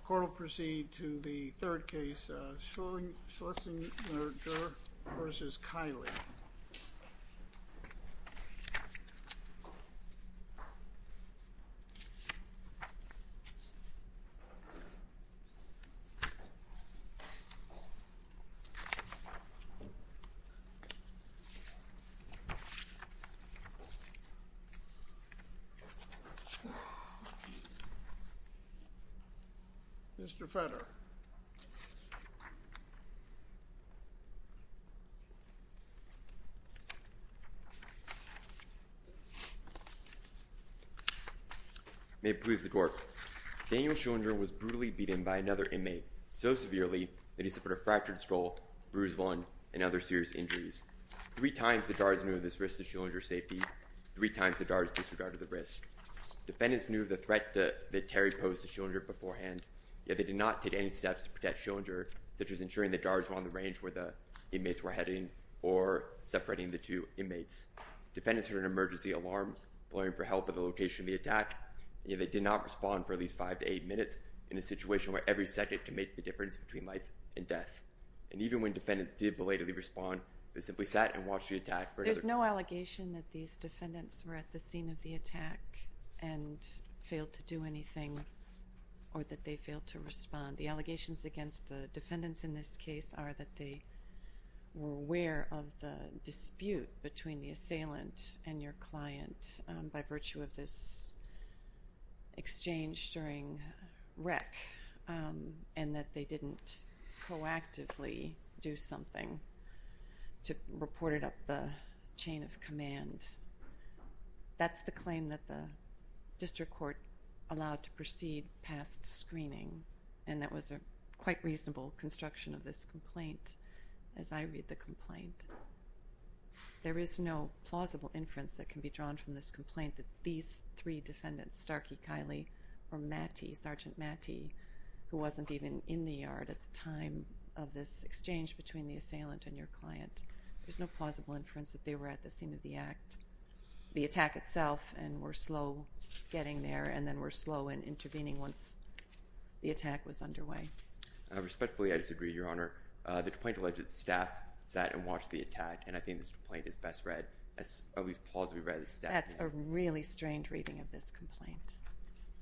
The court will proceed to the third case, Schillinger v. Kiley. Mr. Federer May it please the court. Daniel Schillinger was brutally beaten by another inmate so severely that he suffered a fractured skull, bruised lung, and other serious injuries. Three times the guards knew of this risk to Schillinger's safety. Three times the guards disregarded the risk. Defendants knew of the threat that Terry posed to Schillinger beforehand, yet they did not take any steps to protect Schillinger, such as ensuring the guards were on the range where the inmates were heading or separating the two inmates. Defendants heard an emergency alarm blaring for help at the location of the attack, yet they did not respond for at least five to eight minutes in a situation where every second could make the difference between life and death. And even when defendants did belatedly respond, they simply sat and watched the attack for another... ...and failed to do anything or that they failed to respond. The allegations against the defendants in this case are that they were aware of the dispute between the assailant and your client by virtue of this exchange during rec and that they didn't proactively do something to report it up the chain of command. That's the claim that the district court allowed to proceed past screening, and that was a quite reasonable construction of this complaint as I read the complaint. There is no plausible inference that can be drawn from this complaint that these three defendants, Starkey, Kiley, or Mattie, Sergeant Mattie, who wasn't even in the yard at the time of this exchange between the assailant and your client, there's no plausible inference that they were at the scene of the act, the attack itself, and were slow getting there and then were slow in intervening once the attack was underway. Respectfully, I disagree, Your Honor. The complaint alleged staff sat and watched the attack, and I think this complaint is best read, at least plausibly read... That's a really strange reading of this complaint,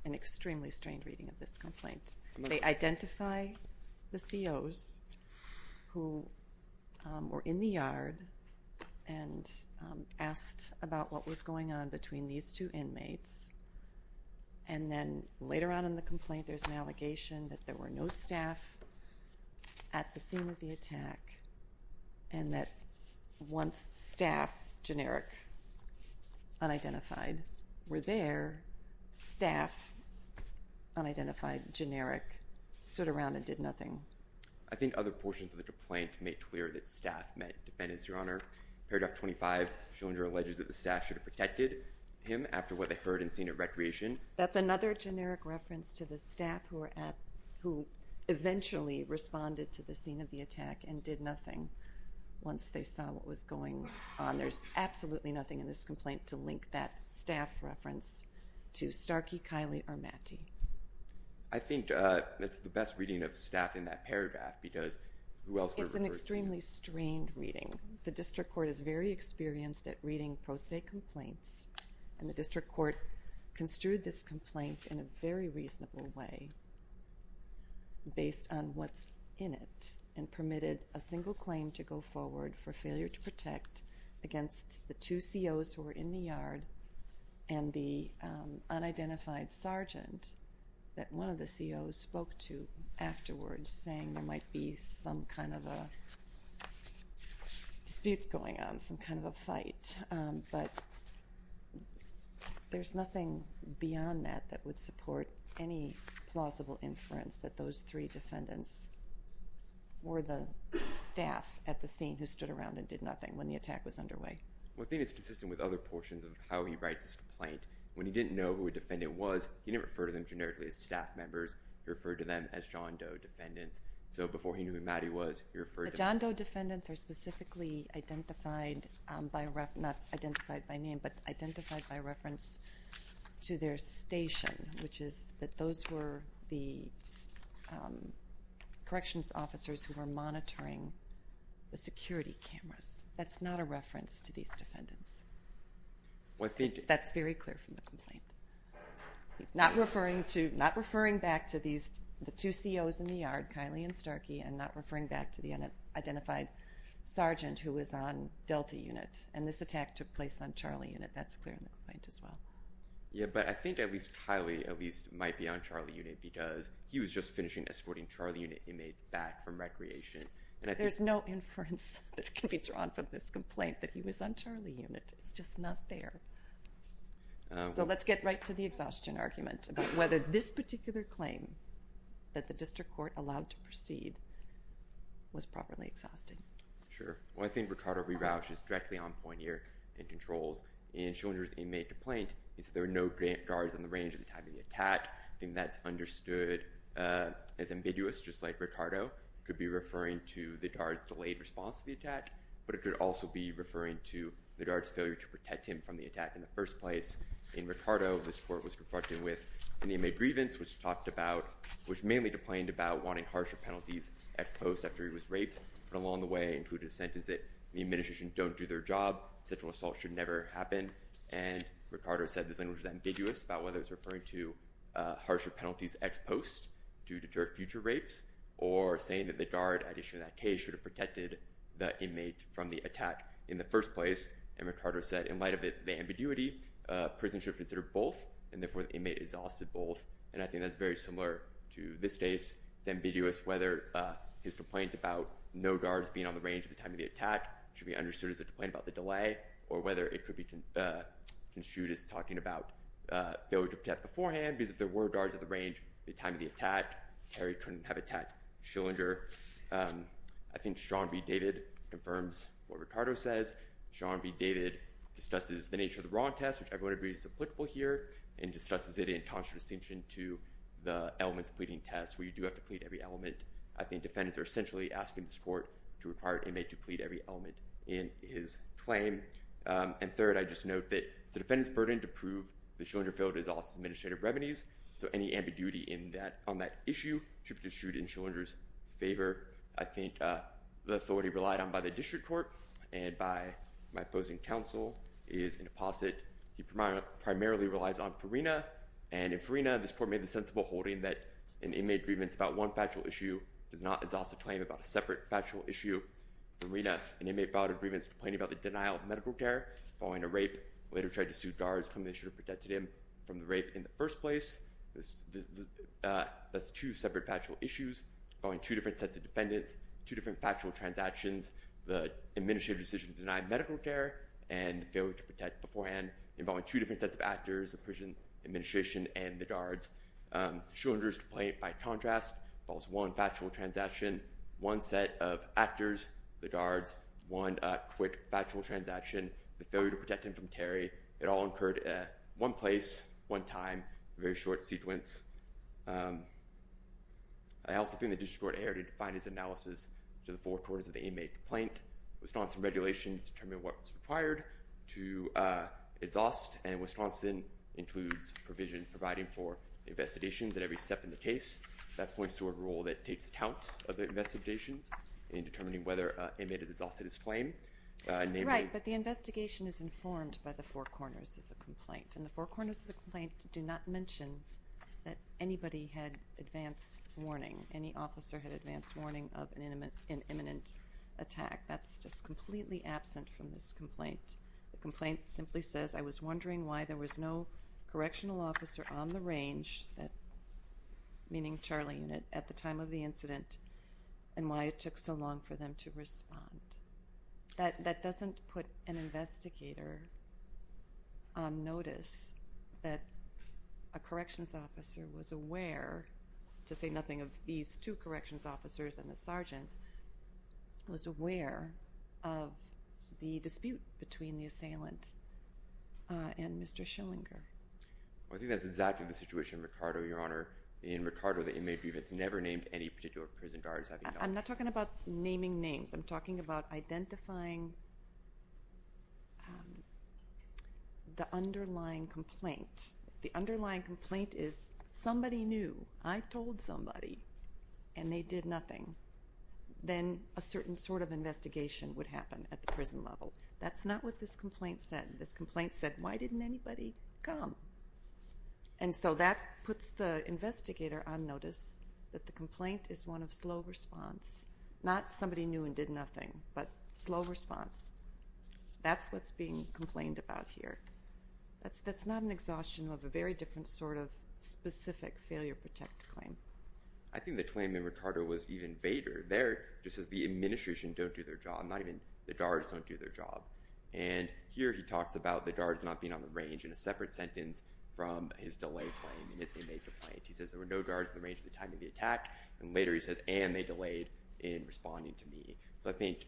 an extremely strange reading of this complaint. They identify the COs who were in the yard and asked about what was going on between these two inmates, and then later on in the complaint there's an allegation that there were no staff at the scene of the attack and that once staff, generic, unidentified, were there, staff, unidentified, generic, stood around and did nothing. I think other portions of the complaint make clear that staff met defendants, Your Honor. Paragraph 25, Schillinger alleges that the staff should have protected him after what they heard and seen at recreation. That's another generic reference to the staff who eventually responded to the scene of the attack and did nothing once they saw what was going on. There's absolutely nothing in this complaint to link that staff reference to Starkey, Kiley, or Mattie. I think it's the best reading of staff in that paragraph because who else could have referred to them? It's an extremely strained reading. The district court is very experienced at reading pro se complaints, and the district court construed this complaint in a very reasonable way based on what's in it and permitted a single claim to go forward for failure to protect against the two COs who were in the yard and the unidentified sergeant that one of the COs spoke to afterwards, saying there might be some kind of a dispute going on, some kind of a fight. But there's nothing beyond that that would support any plausible inference that those three defendants were the staff at the scene who stood around and did nothing when the attack was underway. Well, I think it's consistent with other portions of how he writes this complaint. When he didn't know who a defendant was, he didn't refer to them generically as staff members. He referred to them as John Doe defendants. So before he knew who Mattie was, he referred to them. John Doe defendants are specifically identified by reference, not identified by name, but identified by reference to their station, which is that those were the corrections officers who were monitoring the security cameras. That's not a reference to these defendants. Well, I think it is. That's very clear from the complaint. He's not referring back to the two COs in the yard, Kylie and Starkey, and not referring back to the unidentified sergeant who was on Delta Unit. And this attack took place on Charlie Unit. That's clear in the complaint as well. Yeah, but I think at least Kylie at least might be on Charlie Unit because he was just finishing escorting Charlie Unit inmates back from recreation. There's no inference that can be drawn from this complaint that he was on Charlie Unit. It's just not there. So let's get right to the exhaustion argument about whether this particular claim that the district court allowed to proceed was properly exhausting. Sure. Well, I think Ricardo Rirausch is directly on point here in controls. In Schillinger's inmate complaint, he said there were no guards on the range at the time of the attack. I think that's understood as ambiguous. Just like Ricardo could be referring to the guard's delayed response to the attack, but it could also be referring to the guard's failure to protect him from the attack in the first place. In Ricardo, this court was confronting with an inmate grievance, which mainly complained about wanting harsher penalties ex post after he was raped, but along the way included a sentence that the administration don't do their job, sexual assault should never happen. And Ricardo said this language is ambiguous about whether it's referring to harsher penalties ex post to deter future rapes or saying that the guard at issue in that case should have protected the inmate from the attack in the first place. And Ricardo said in light of the ambiguity, prison should have considered both, and therefore the inmate exhausted both. And I think that's very similar to this case. It's ambiguous whether his complaint about no guards being on the range at the time of the attack should be understood as a complaint about the delay or whether it could be construed as talking about failure to protect beforehand because if there were guards at the range at the time of the attack, Terry couldn't have attacked Schillinger. I think Sean V. David confirms what Ricardo says. Sean V. David discusses the nature of the wrong test, which everybody agrees is applicable here, and discusses it in conscious distinction to the elements of pleading test where you do have to plead every element. I think defendants are essentially asking this court to require an inmate to plead every element in his claim. And third, I'd just note that it's the defendant's burden to prove that Schillinger failed his office's administrative revenues, so any ambiguity on that issue should be construed in Schillinger's favor. I think the authority relied on by the district court and by my opposing counsel is an apposite. He primarily relies on Farina. And in Farina, this court made the sensible holding that an inmate's grievance about one factual issue does not exhaust a claim about a separate factual issue. In Farina, an inmate filed a grievance complaining about the denial of medical care following a rape, later tried to sue guards claiming they should have protected him from the rape in the first place. That's two separate factual issues involving two different sets of defendants, two different factual transactions, the administrative decision to deny medical care, and the failure to protect beforehand involving two different sets of actors, the prison administration and the guards. Schillinger's complaint, by contrast, involves one factual transaction, one set of actors, the guards, one quick factual transaction, the failure to protect him from Terry. It all occurred at one place, one time, a very short sequence. I also think the district court erred in defining its analysis to the forecourts of the inmate complaint. Wisconsin regulations determine what was required to exhaust, and Wisconsin includes provision providing for investigations at every step in the case. That points to a rule that takes account of the investigations in determining whether an inmate has exhausted his claim. Right, but the investigation is informed by the forecourts of the complaint, and the forecourts of the complaint do not mention that anybody had advance warning, any officer had advance warning of an imminent attack. That's just completely absent from this complaint. The complaint simply says, I was wondering why there was no correctional officer on the range, meaning Charlie unit, at the time of the incident, and why it took so long for them to respond. That doesn't put an investigator on notice that a corrections officer was aware, to say nothing of these two corrections officers and the sergeant, was aware of the dispute between the assailant and Mr. Schillinger. I think that's exactly the situation, Ricardo, Your Honor. In Ricardo, the inmate grievance never named any particular prison guards. I'm not talking about naming names. I'm talking about identifying the underlying complaint. The underlying complaint is somebody knew, I told somebody, and they did nothing. Then a certain sort of investigation would happen at the prison level. That's not what this complaint said. This complaint said, why didn't anybody come? And so that puts the investigator on notice that the complaint is one of slow response, not somebody knew and did nothing, but slow response. That's what's being complained about here. That's not an exhaustion of a very different sort of specific failure protect claim. I think the claim in Ricardo was even vader. There, just as the administration don't do their job, not even the guards don't do their job. And here he talks about the guards not being on the range in a separate sentence from his delay claim and his inmate complaint. He says there were no guards in the range at the time of the attack, and later he says, and they delayed in responding to me. So I think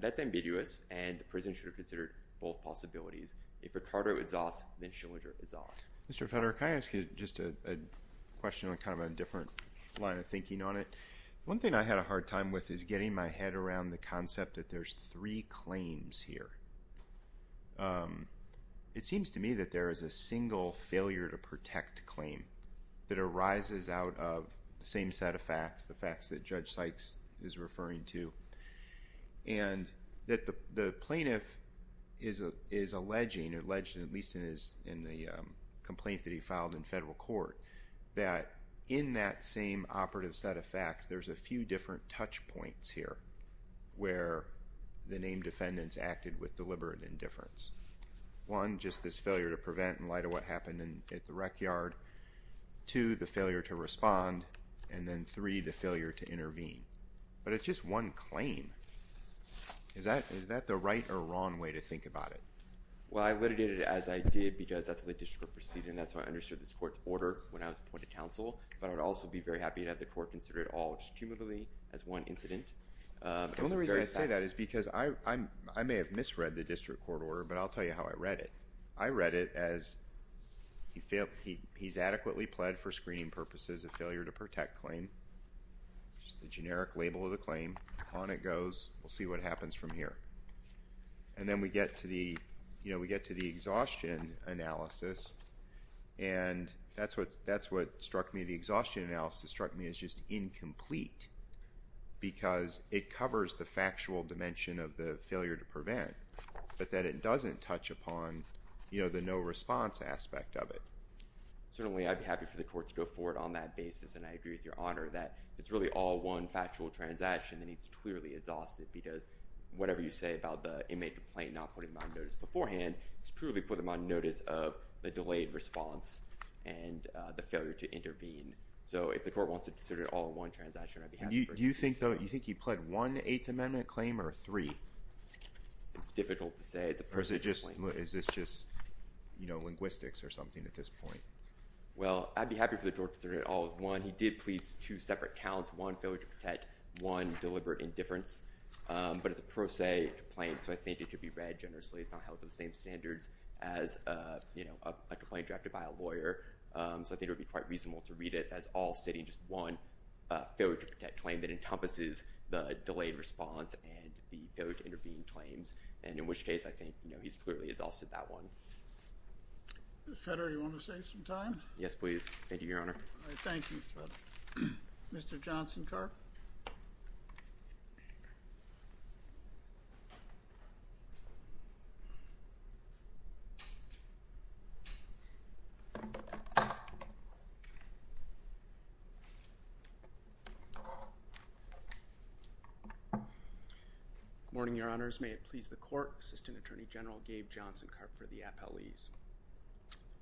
that's ambiguous, and the prison should have considered both possibilities. If Ricardo exhausts, then Schillinger exhausts. Mr. Frederick, can I ask you just a question on kind of a different line of thinking on it? One thing I had a hard time with is getting my head around the concept that there's three claims here. It seems to me that there is a single failure to protect claim that arises out of the same set of facts, the facts that Judge Sykes is referring to, and that the plaintiff is alleging, alleged at least in the complaint that he filed in federal court, that in that same operative set of facts, there's a few different touch points here where the named defendants acted with deliberate indifference. One, just this failure to prevent in light of what happened at the rec yard. Two, the failure to respond. And then three, the failure to intervene. But it's just one claim. Is that the right or wrong way to think about it? Well, I litigated it as I did because that's how the district proceeded, and that's how I understood this court's order when I was appointed counsel. But I would also be very happy to have the court consider it all just cumulatively as one incident. The only reason I say that is because I may have misread the district court order, but I'll tell you how I read it. I read it as he's adequately pled for screening purposes of failure to protect claim, which is the generic label of the claim. On it goes. We'll see what happens from here. And then we get to the exhaustion analysis, and that's what struck me. The exhaustion analysis struck me as just incomplete because it covers the factual dimension of the failure to prevent, but that it doesn't touch upon the no response aspect of it. Certainly, I'd be happy for the court to go forward on that basis, and I agree with Your Honor that it's really all one factual transaction that needs to clearly exhaust it because whatever you say about the inmate complaint not putting them on notice beforehand, it's purely putting them on notice of the delayed response and the failure to intervene. So if the court wants to consider it all one transaction, I'd be happy for it. Do you think he pled one Eighth Amendment claim or three? It's difficult to say. Is this just linguistics or something at this point? Well, I'd be happy for the court to consider it all as one. He did please two separate counts, one failure to protect, one deliberate indifference. But it's a pro se complaint, so I think it could be read generously. It's not held to the same standards as a complaint drafted by a lawyer. So I think it would be quite reasonable to read it as all stating just one failure to protect claim that encompasses the delayed response and the failure to intervene claims, and in which case I think he clearly has all said that one. Mr. Federer, do you want to save some time? Yes, please. Thank you, Your Honor. Thank you, Mr. Federer. Mr. Johnson-Karp? Good morning, Your Honors. May it please the court, Assistant Attorney General Gabe Johnson-Karp for the appellees.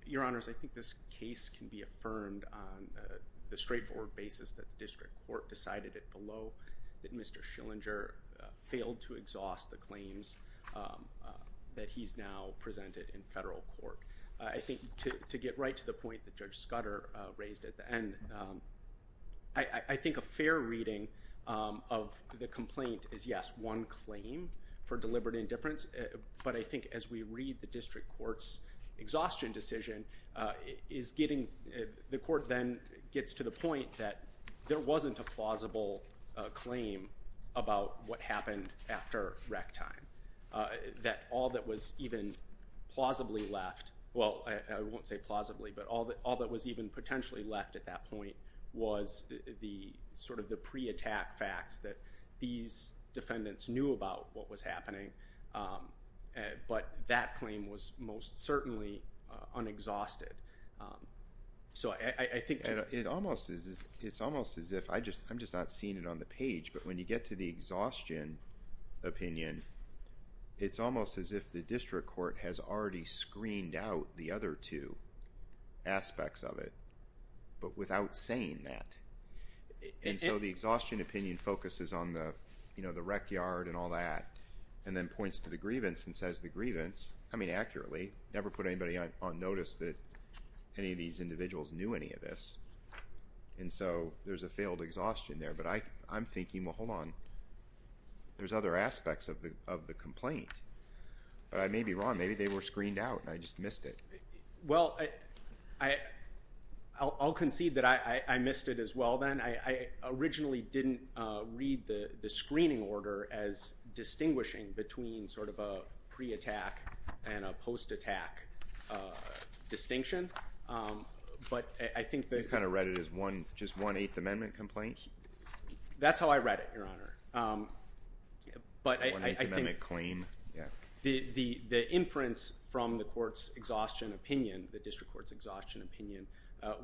Your Honors, I think this case can be affirmed on the straightforward basis that the district court decided it below that Mr. Schillinger failed to exhaust the claims that he's now presented in federal court. I think to get right to the point that Judge Scudder raised at the end, I think a fair reading of the complaint is, yes, one claim for deliberate indifference, but I think as we read the district court's exhaustion decision, the court then gets to the point that there wasn't a plausible claim about what happened after rec time, that all that was even plausibly left, well, I won't say plausibly, but all that was even potentially left at that point was sort of the pre-attack facts that these defendants knew about what was happening, but that claim was most certainly unexhausted. So I think... It's almost as if, I'm just not seeing it on the page, but when you get to the exhaustion opinion, it's almost as if the district court has already screened out the other two aspects of it, but without saying that. And so the exhaustion opinion focuses on the rec yard and all that and then points to the grievance and says the grievance, I mean accurately, never put anybody on notice that any of these individuals knew any of this, and so there's a failed exhaustion there. But I'm thinking, well, hold on, there's other aspects of the complaint. But I may be wrong. Maybe they were screened out and I just missed it. Well, I'll concede that I missed it as well then. I originally didn't read the screening order as distinguishing between sort of a pre-attack and a post-attack distinction, but I think that... You kind of read it as just one Eighth Amendment complaint? That's how I read it, Your Honor. One Eighth Amendment claim? The inference from the court's exhaustion opinion, the district court's exhaustion opinion,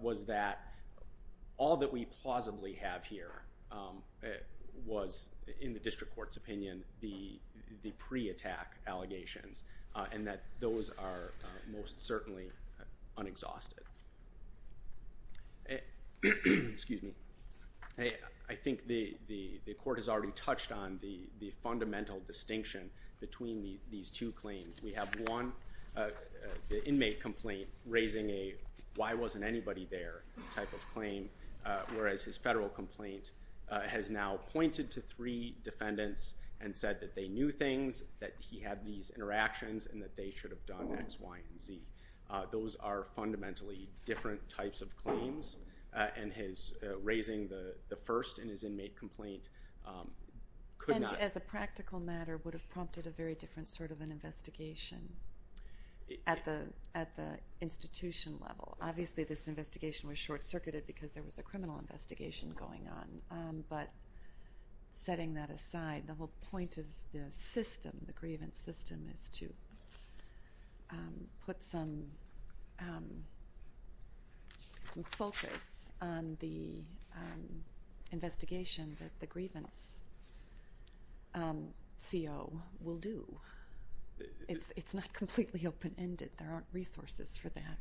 was that all that we plausibly have here was, in the district court's opinion, the pre-attack allegations and that those are most certainly unexhausted. Excuse me. I think the court has already touched on the fundamental distinction between these two claims. We have one, the inmate complaint, raising a why wasn't anybody there type of claim, whereas his federal complaint has now pointed to three defendants and said that they knew things, that he had these interactions, and that they should have done X, Y, and Z. Those are fundamentally different types of claims, and his raising the first in his inmate complaint could not... And as a practical matter, would have prompted a very different sort of an investigation at the institution level. Obviously, this investigation was short-circuited because there was a criminal investigation going on, but setting that aside, the whole point of the system, the grievance system, is to put some focus on the investigation that the grievance CO will do. It's not completely open-ended. There aren't resources for that.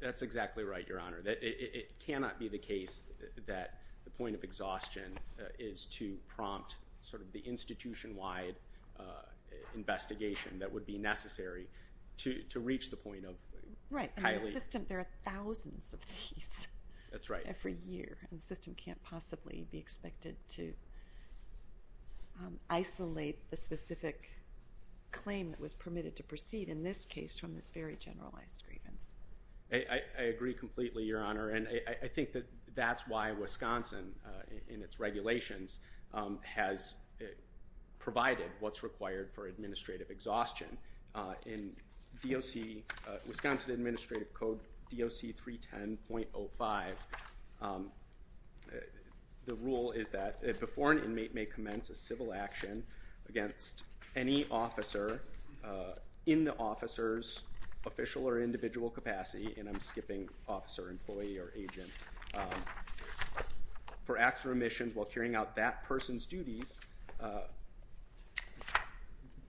That's exactly right, Your Honor. It cannot be the case that the point of exhaustion is to prompt sort of the institution-wide investigation that would be necessary to reach the point of highly... Right, and the system, there are thousands of these every year, and the system can't possibly be expected to isolate the specific claim that was permitted to proceed, in this case, from this very generalized grievance. I agree completely, Your Honor, and I think that that's why Wisconsin, in its regulations, has provided what's required for administrative exhaustion. In Wisconsin Administrative Code, DOC 310.05, the rule is that before an inmate may commence a civil action against any officer in the officer's official or individual capacity, and I'm skipping officer, employee, or agent, for acts or omissions while carrying out that person's duties,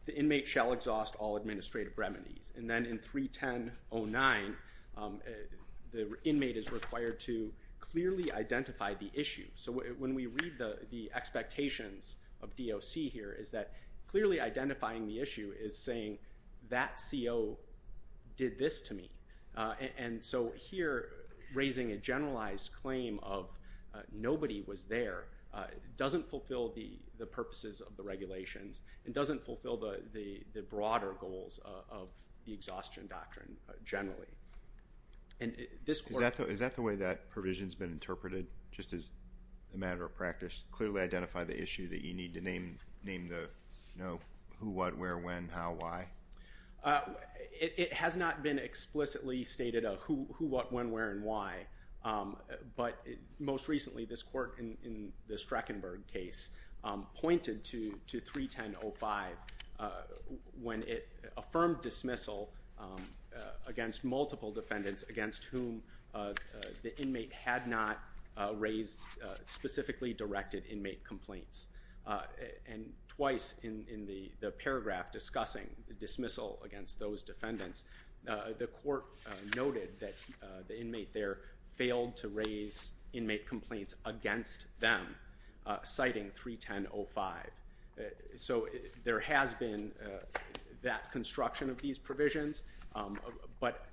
the inmate shall exhaust all administrative remedies. And then in 310.09, the inmate is required to clearly identify the issue. So when we read the expectations of DOC here, it's that clearly identifying the issue is saying that CO did this to me. And so here, raising a generalized claim of nobody was there doesn't fulfill the purposes of the regulations and doesn't fulfill the broader goals of the exhaustion doctrine generally. Is that the way that provision's been interpreted, just as a matter of practice, clearly identify the issue that you need to name the who, what, where, when, how, why? It has not been explicitly stated a who, what, when, where, and why, but most recently this court in the Streckenberg case pointed to 310.05 when it affirmed dismissal against multiple defendants against whom the inmate had not raised specifically directed inmate complaints. And twice in the paragraph discussing dismissal against those defendants, the court noted that the inmate there failed to raise inmate complaints against them, citing 310.05. So there has been that construction of these provisions, but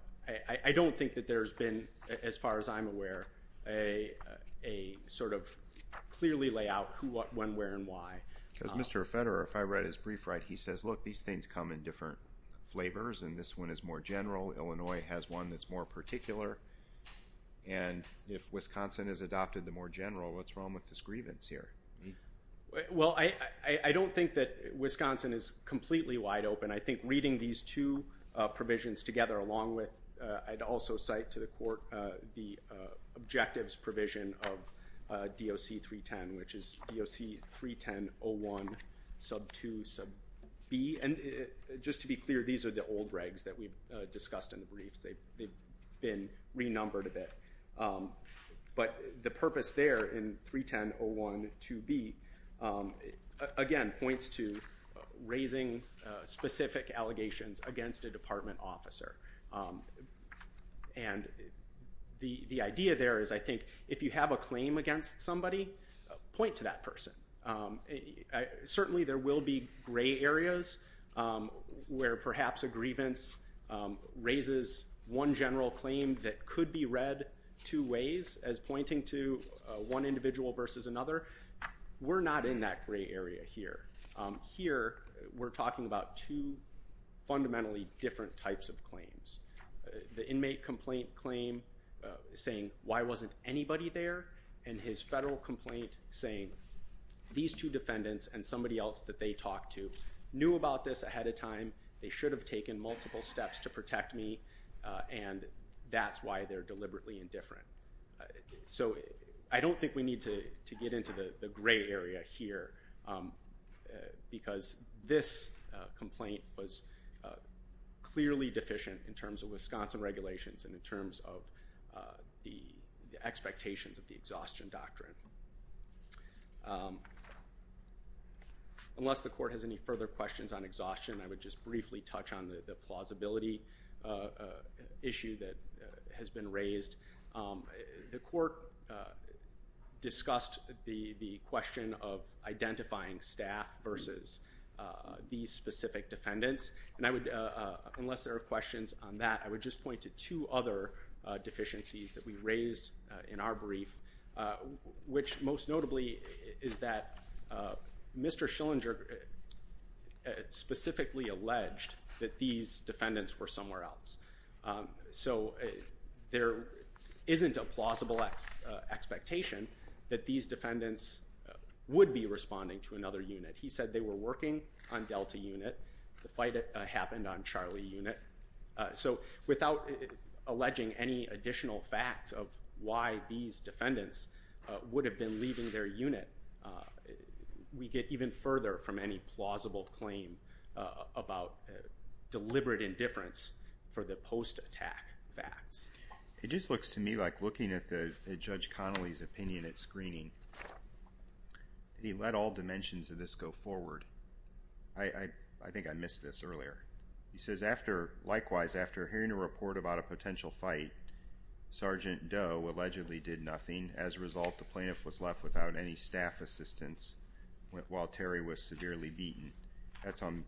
I don't think that there's been, as far as I'm aware, a sort of clearly layout who, what, when, where, and why. Because Mr. Federer, if I read his brief right, he says, look, these things come in different flavors, and this one is more general. Illinois has one that's more particular. And if Wisconsin is adopted the more general, what's wrong with this grievance here? Well, I don't think that Wisconsin is completely wide open. I think reading these two provisions together along with, I'd also cite to the court the objectives provision of DOC 310, which is DOC 310.01 sub 2 sub b. And just to be clear, these are the old regs that we've discussed in the briefs. They've been renumbered a bit. But the purpose there in 310.01 sub 2 b, again, points to raising specific allegations against a department officer. And the idea there is, I think, if you have a claim against somebody, point to that person. Certainly, there will be gray areas where perhaps a grievance raises one general claim that could be read two ways, as pointing to one individual versus another. We're not in that gray area here. Here, we're talking about two fundamentally different types of claims. The inmate complaint claim saying, why wasn't anybody there? And his federal complaint saying, these two defendants and somebody else that they talked to knew about this ahead of time. They should have taken multiple steps to protect me. And that's why they're deliberately indifferent. So I don't think we need to get into the gray area here, because this complaint was clearly deficient in terms of Wisconsin regulations and in terms of the expectations of the exhaustion doctrine. Unless the court has any further questions on exhaustion, I would just briefly touch on the plausibility issue that has been raised. The court discussed the question of identifying staff versus these specific defendants. And I would, unless there are questions on that, I would just point to two other deficiencies that we raised in our brief, which most notably is that Mr. Schillinger specifically alleged that these defendants were somewhere else. So there isn't a plausible expectation that these defendants would be responding to another unit. He said they were working on Delta Unit. The fight happened on Charlie Unit. So without alleging any additional facts of why these defendants would have been leaving their unit, we get even further from any plausible claim about deliberate indifference for the post-attack facts. It just looks to me like looking at Judge Connolly's opinion at screening, he let all dimensions of this go forward. I think I missed this earlier. He says, likewise, after hearing a report about a potential fight, Sergeant Doe allegedly did nothing. As a result, the plaintiff was left without any staff assistance while Terry was severely beaten. That's on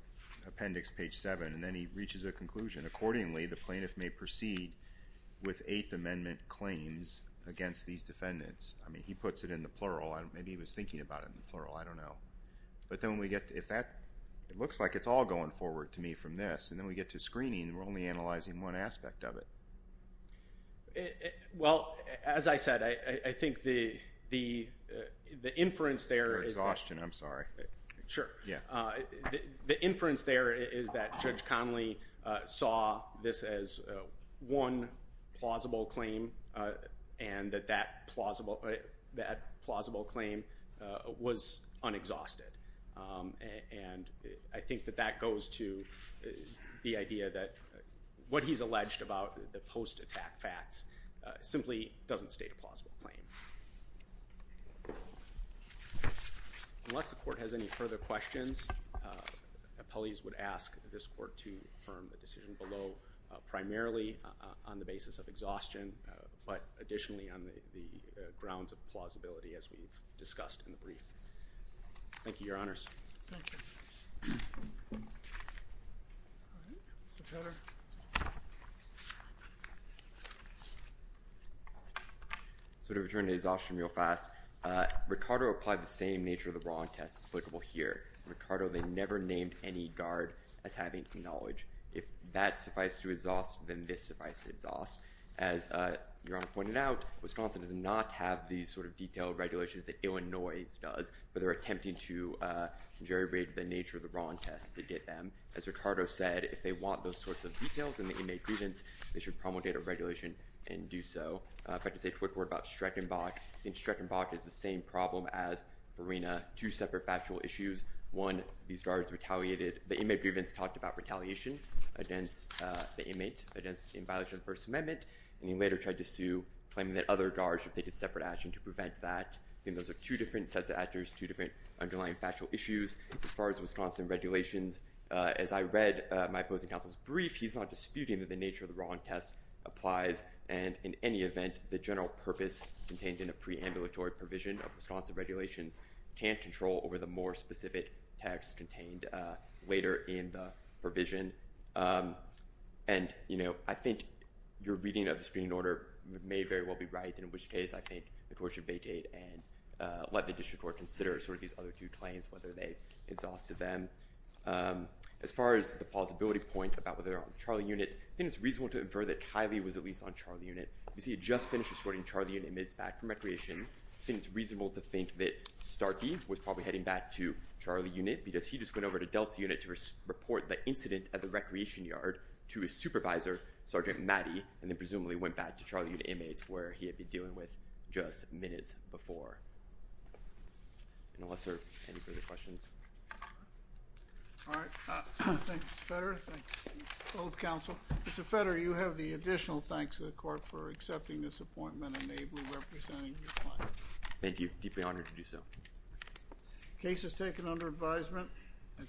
appendix page 7. And then he reaches a conclusion. Accordingly, the plaintiff may proceed with Eighth Amendment claims against these defendants. I mean, he puts it in the plural. Maybe he was thinking about it in the plural. I don't know. It looks like it's all going forward to me from this. And then we get to screening, and we're only analyzing one aspect of it. Well, as I said, I think the inference there is that Judge Connolly saw this as one plausible claim and that that plausible claim was unexhausted. And I think that that goes to the idea that what he's alleged about the post-attack facts simply doesn't state a plausible claim. Unless the Court has any further questions, appellees would ask this Court to affirm the decision below, primarily on the basis of exhaustion, but additionally on the grounds of plausibility, as we've discussed in the brief. Thank you, Your Honors. Thank you. Mr. Turner. So to return to exhaustion real fast, Ricardo applied the same nature-of-the-wrong test applicable here. Ricardo, they never named any guard as having knowledge. If that suffices to exhaust, then this suffices to exhaust. As Your Honor pointed out, Wisconsin does not have these sort of detailed regulations that Illinois does, but they're attempting to geribrate the nature-of-the-wrong test to get them. As Ricardo said, if they want those sorts of details in the inmate presence, they should promulgate a regulation and do so. If I could say a quick word about Streckenbach. I think Streckenbach is the same problem as Farina. Two separate factual issues. One, these guards retaliated. The inmate grievance talked about retaliation against the inmate in violation of the First Amendment, and he later tried to sue, claiming that other guards should take a separate action to prevent that. I think those are two different sets of actions, two different underlying factual issues. As far as Wisconsin regulations, as I read my opposing counsel's brief, he's not disputing that the nature-of-the-wrong test applies, and in any event, the general purpose contained in a preambulatory provision of Wisconsin regulations can't control over the more specific text contained later in the provision. And, you know, I think your reading of the screening order may very well be right, in which case I think the court should vacate and let the district court consider sort of these other two claims, whether they exhausted them. As far as the plausibility point about whether they're on the trial unit, I think it's reasonable to infer that Kiley was at least on trial unit, because he had just finished escorting Charlie and inmates back from recreation. I think it's reasonable to think that Starkey was probably heading back to trial unit because he just went over to Delta unit to report the incident at the recreation yard to his supervisor, Sergeant Matty, and then presumably went back to trial unit inmates where he had been dealing with just minutes before. Unless there are any further questions. All right. Thank you, Mr. Federer. Thank you, both counsel. Mr. Federer, you have the additional thanks of the court for accepting this appointment and may be representing your client. Thank you. Deeply honored to do so. Case is taken under advisement.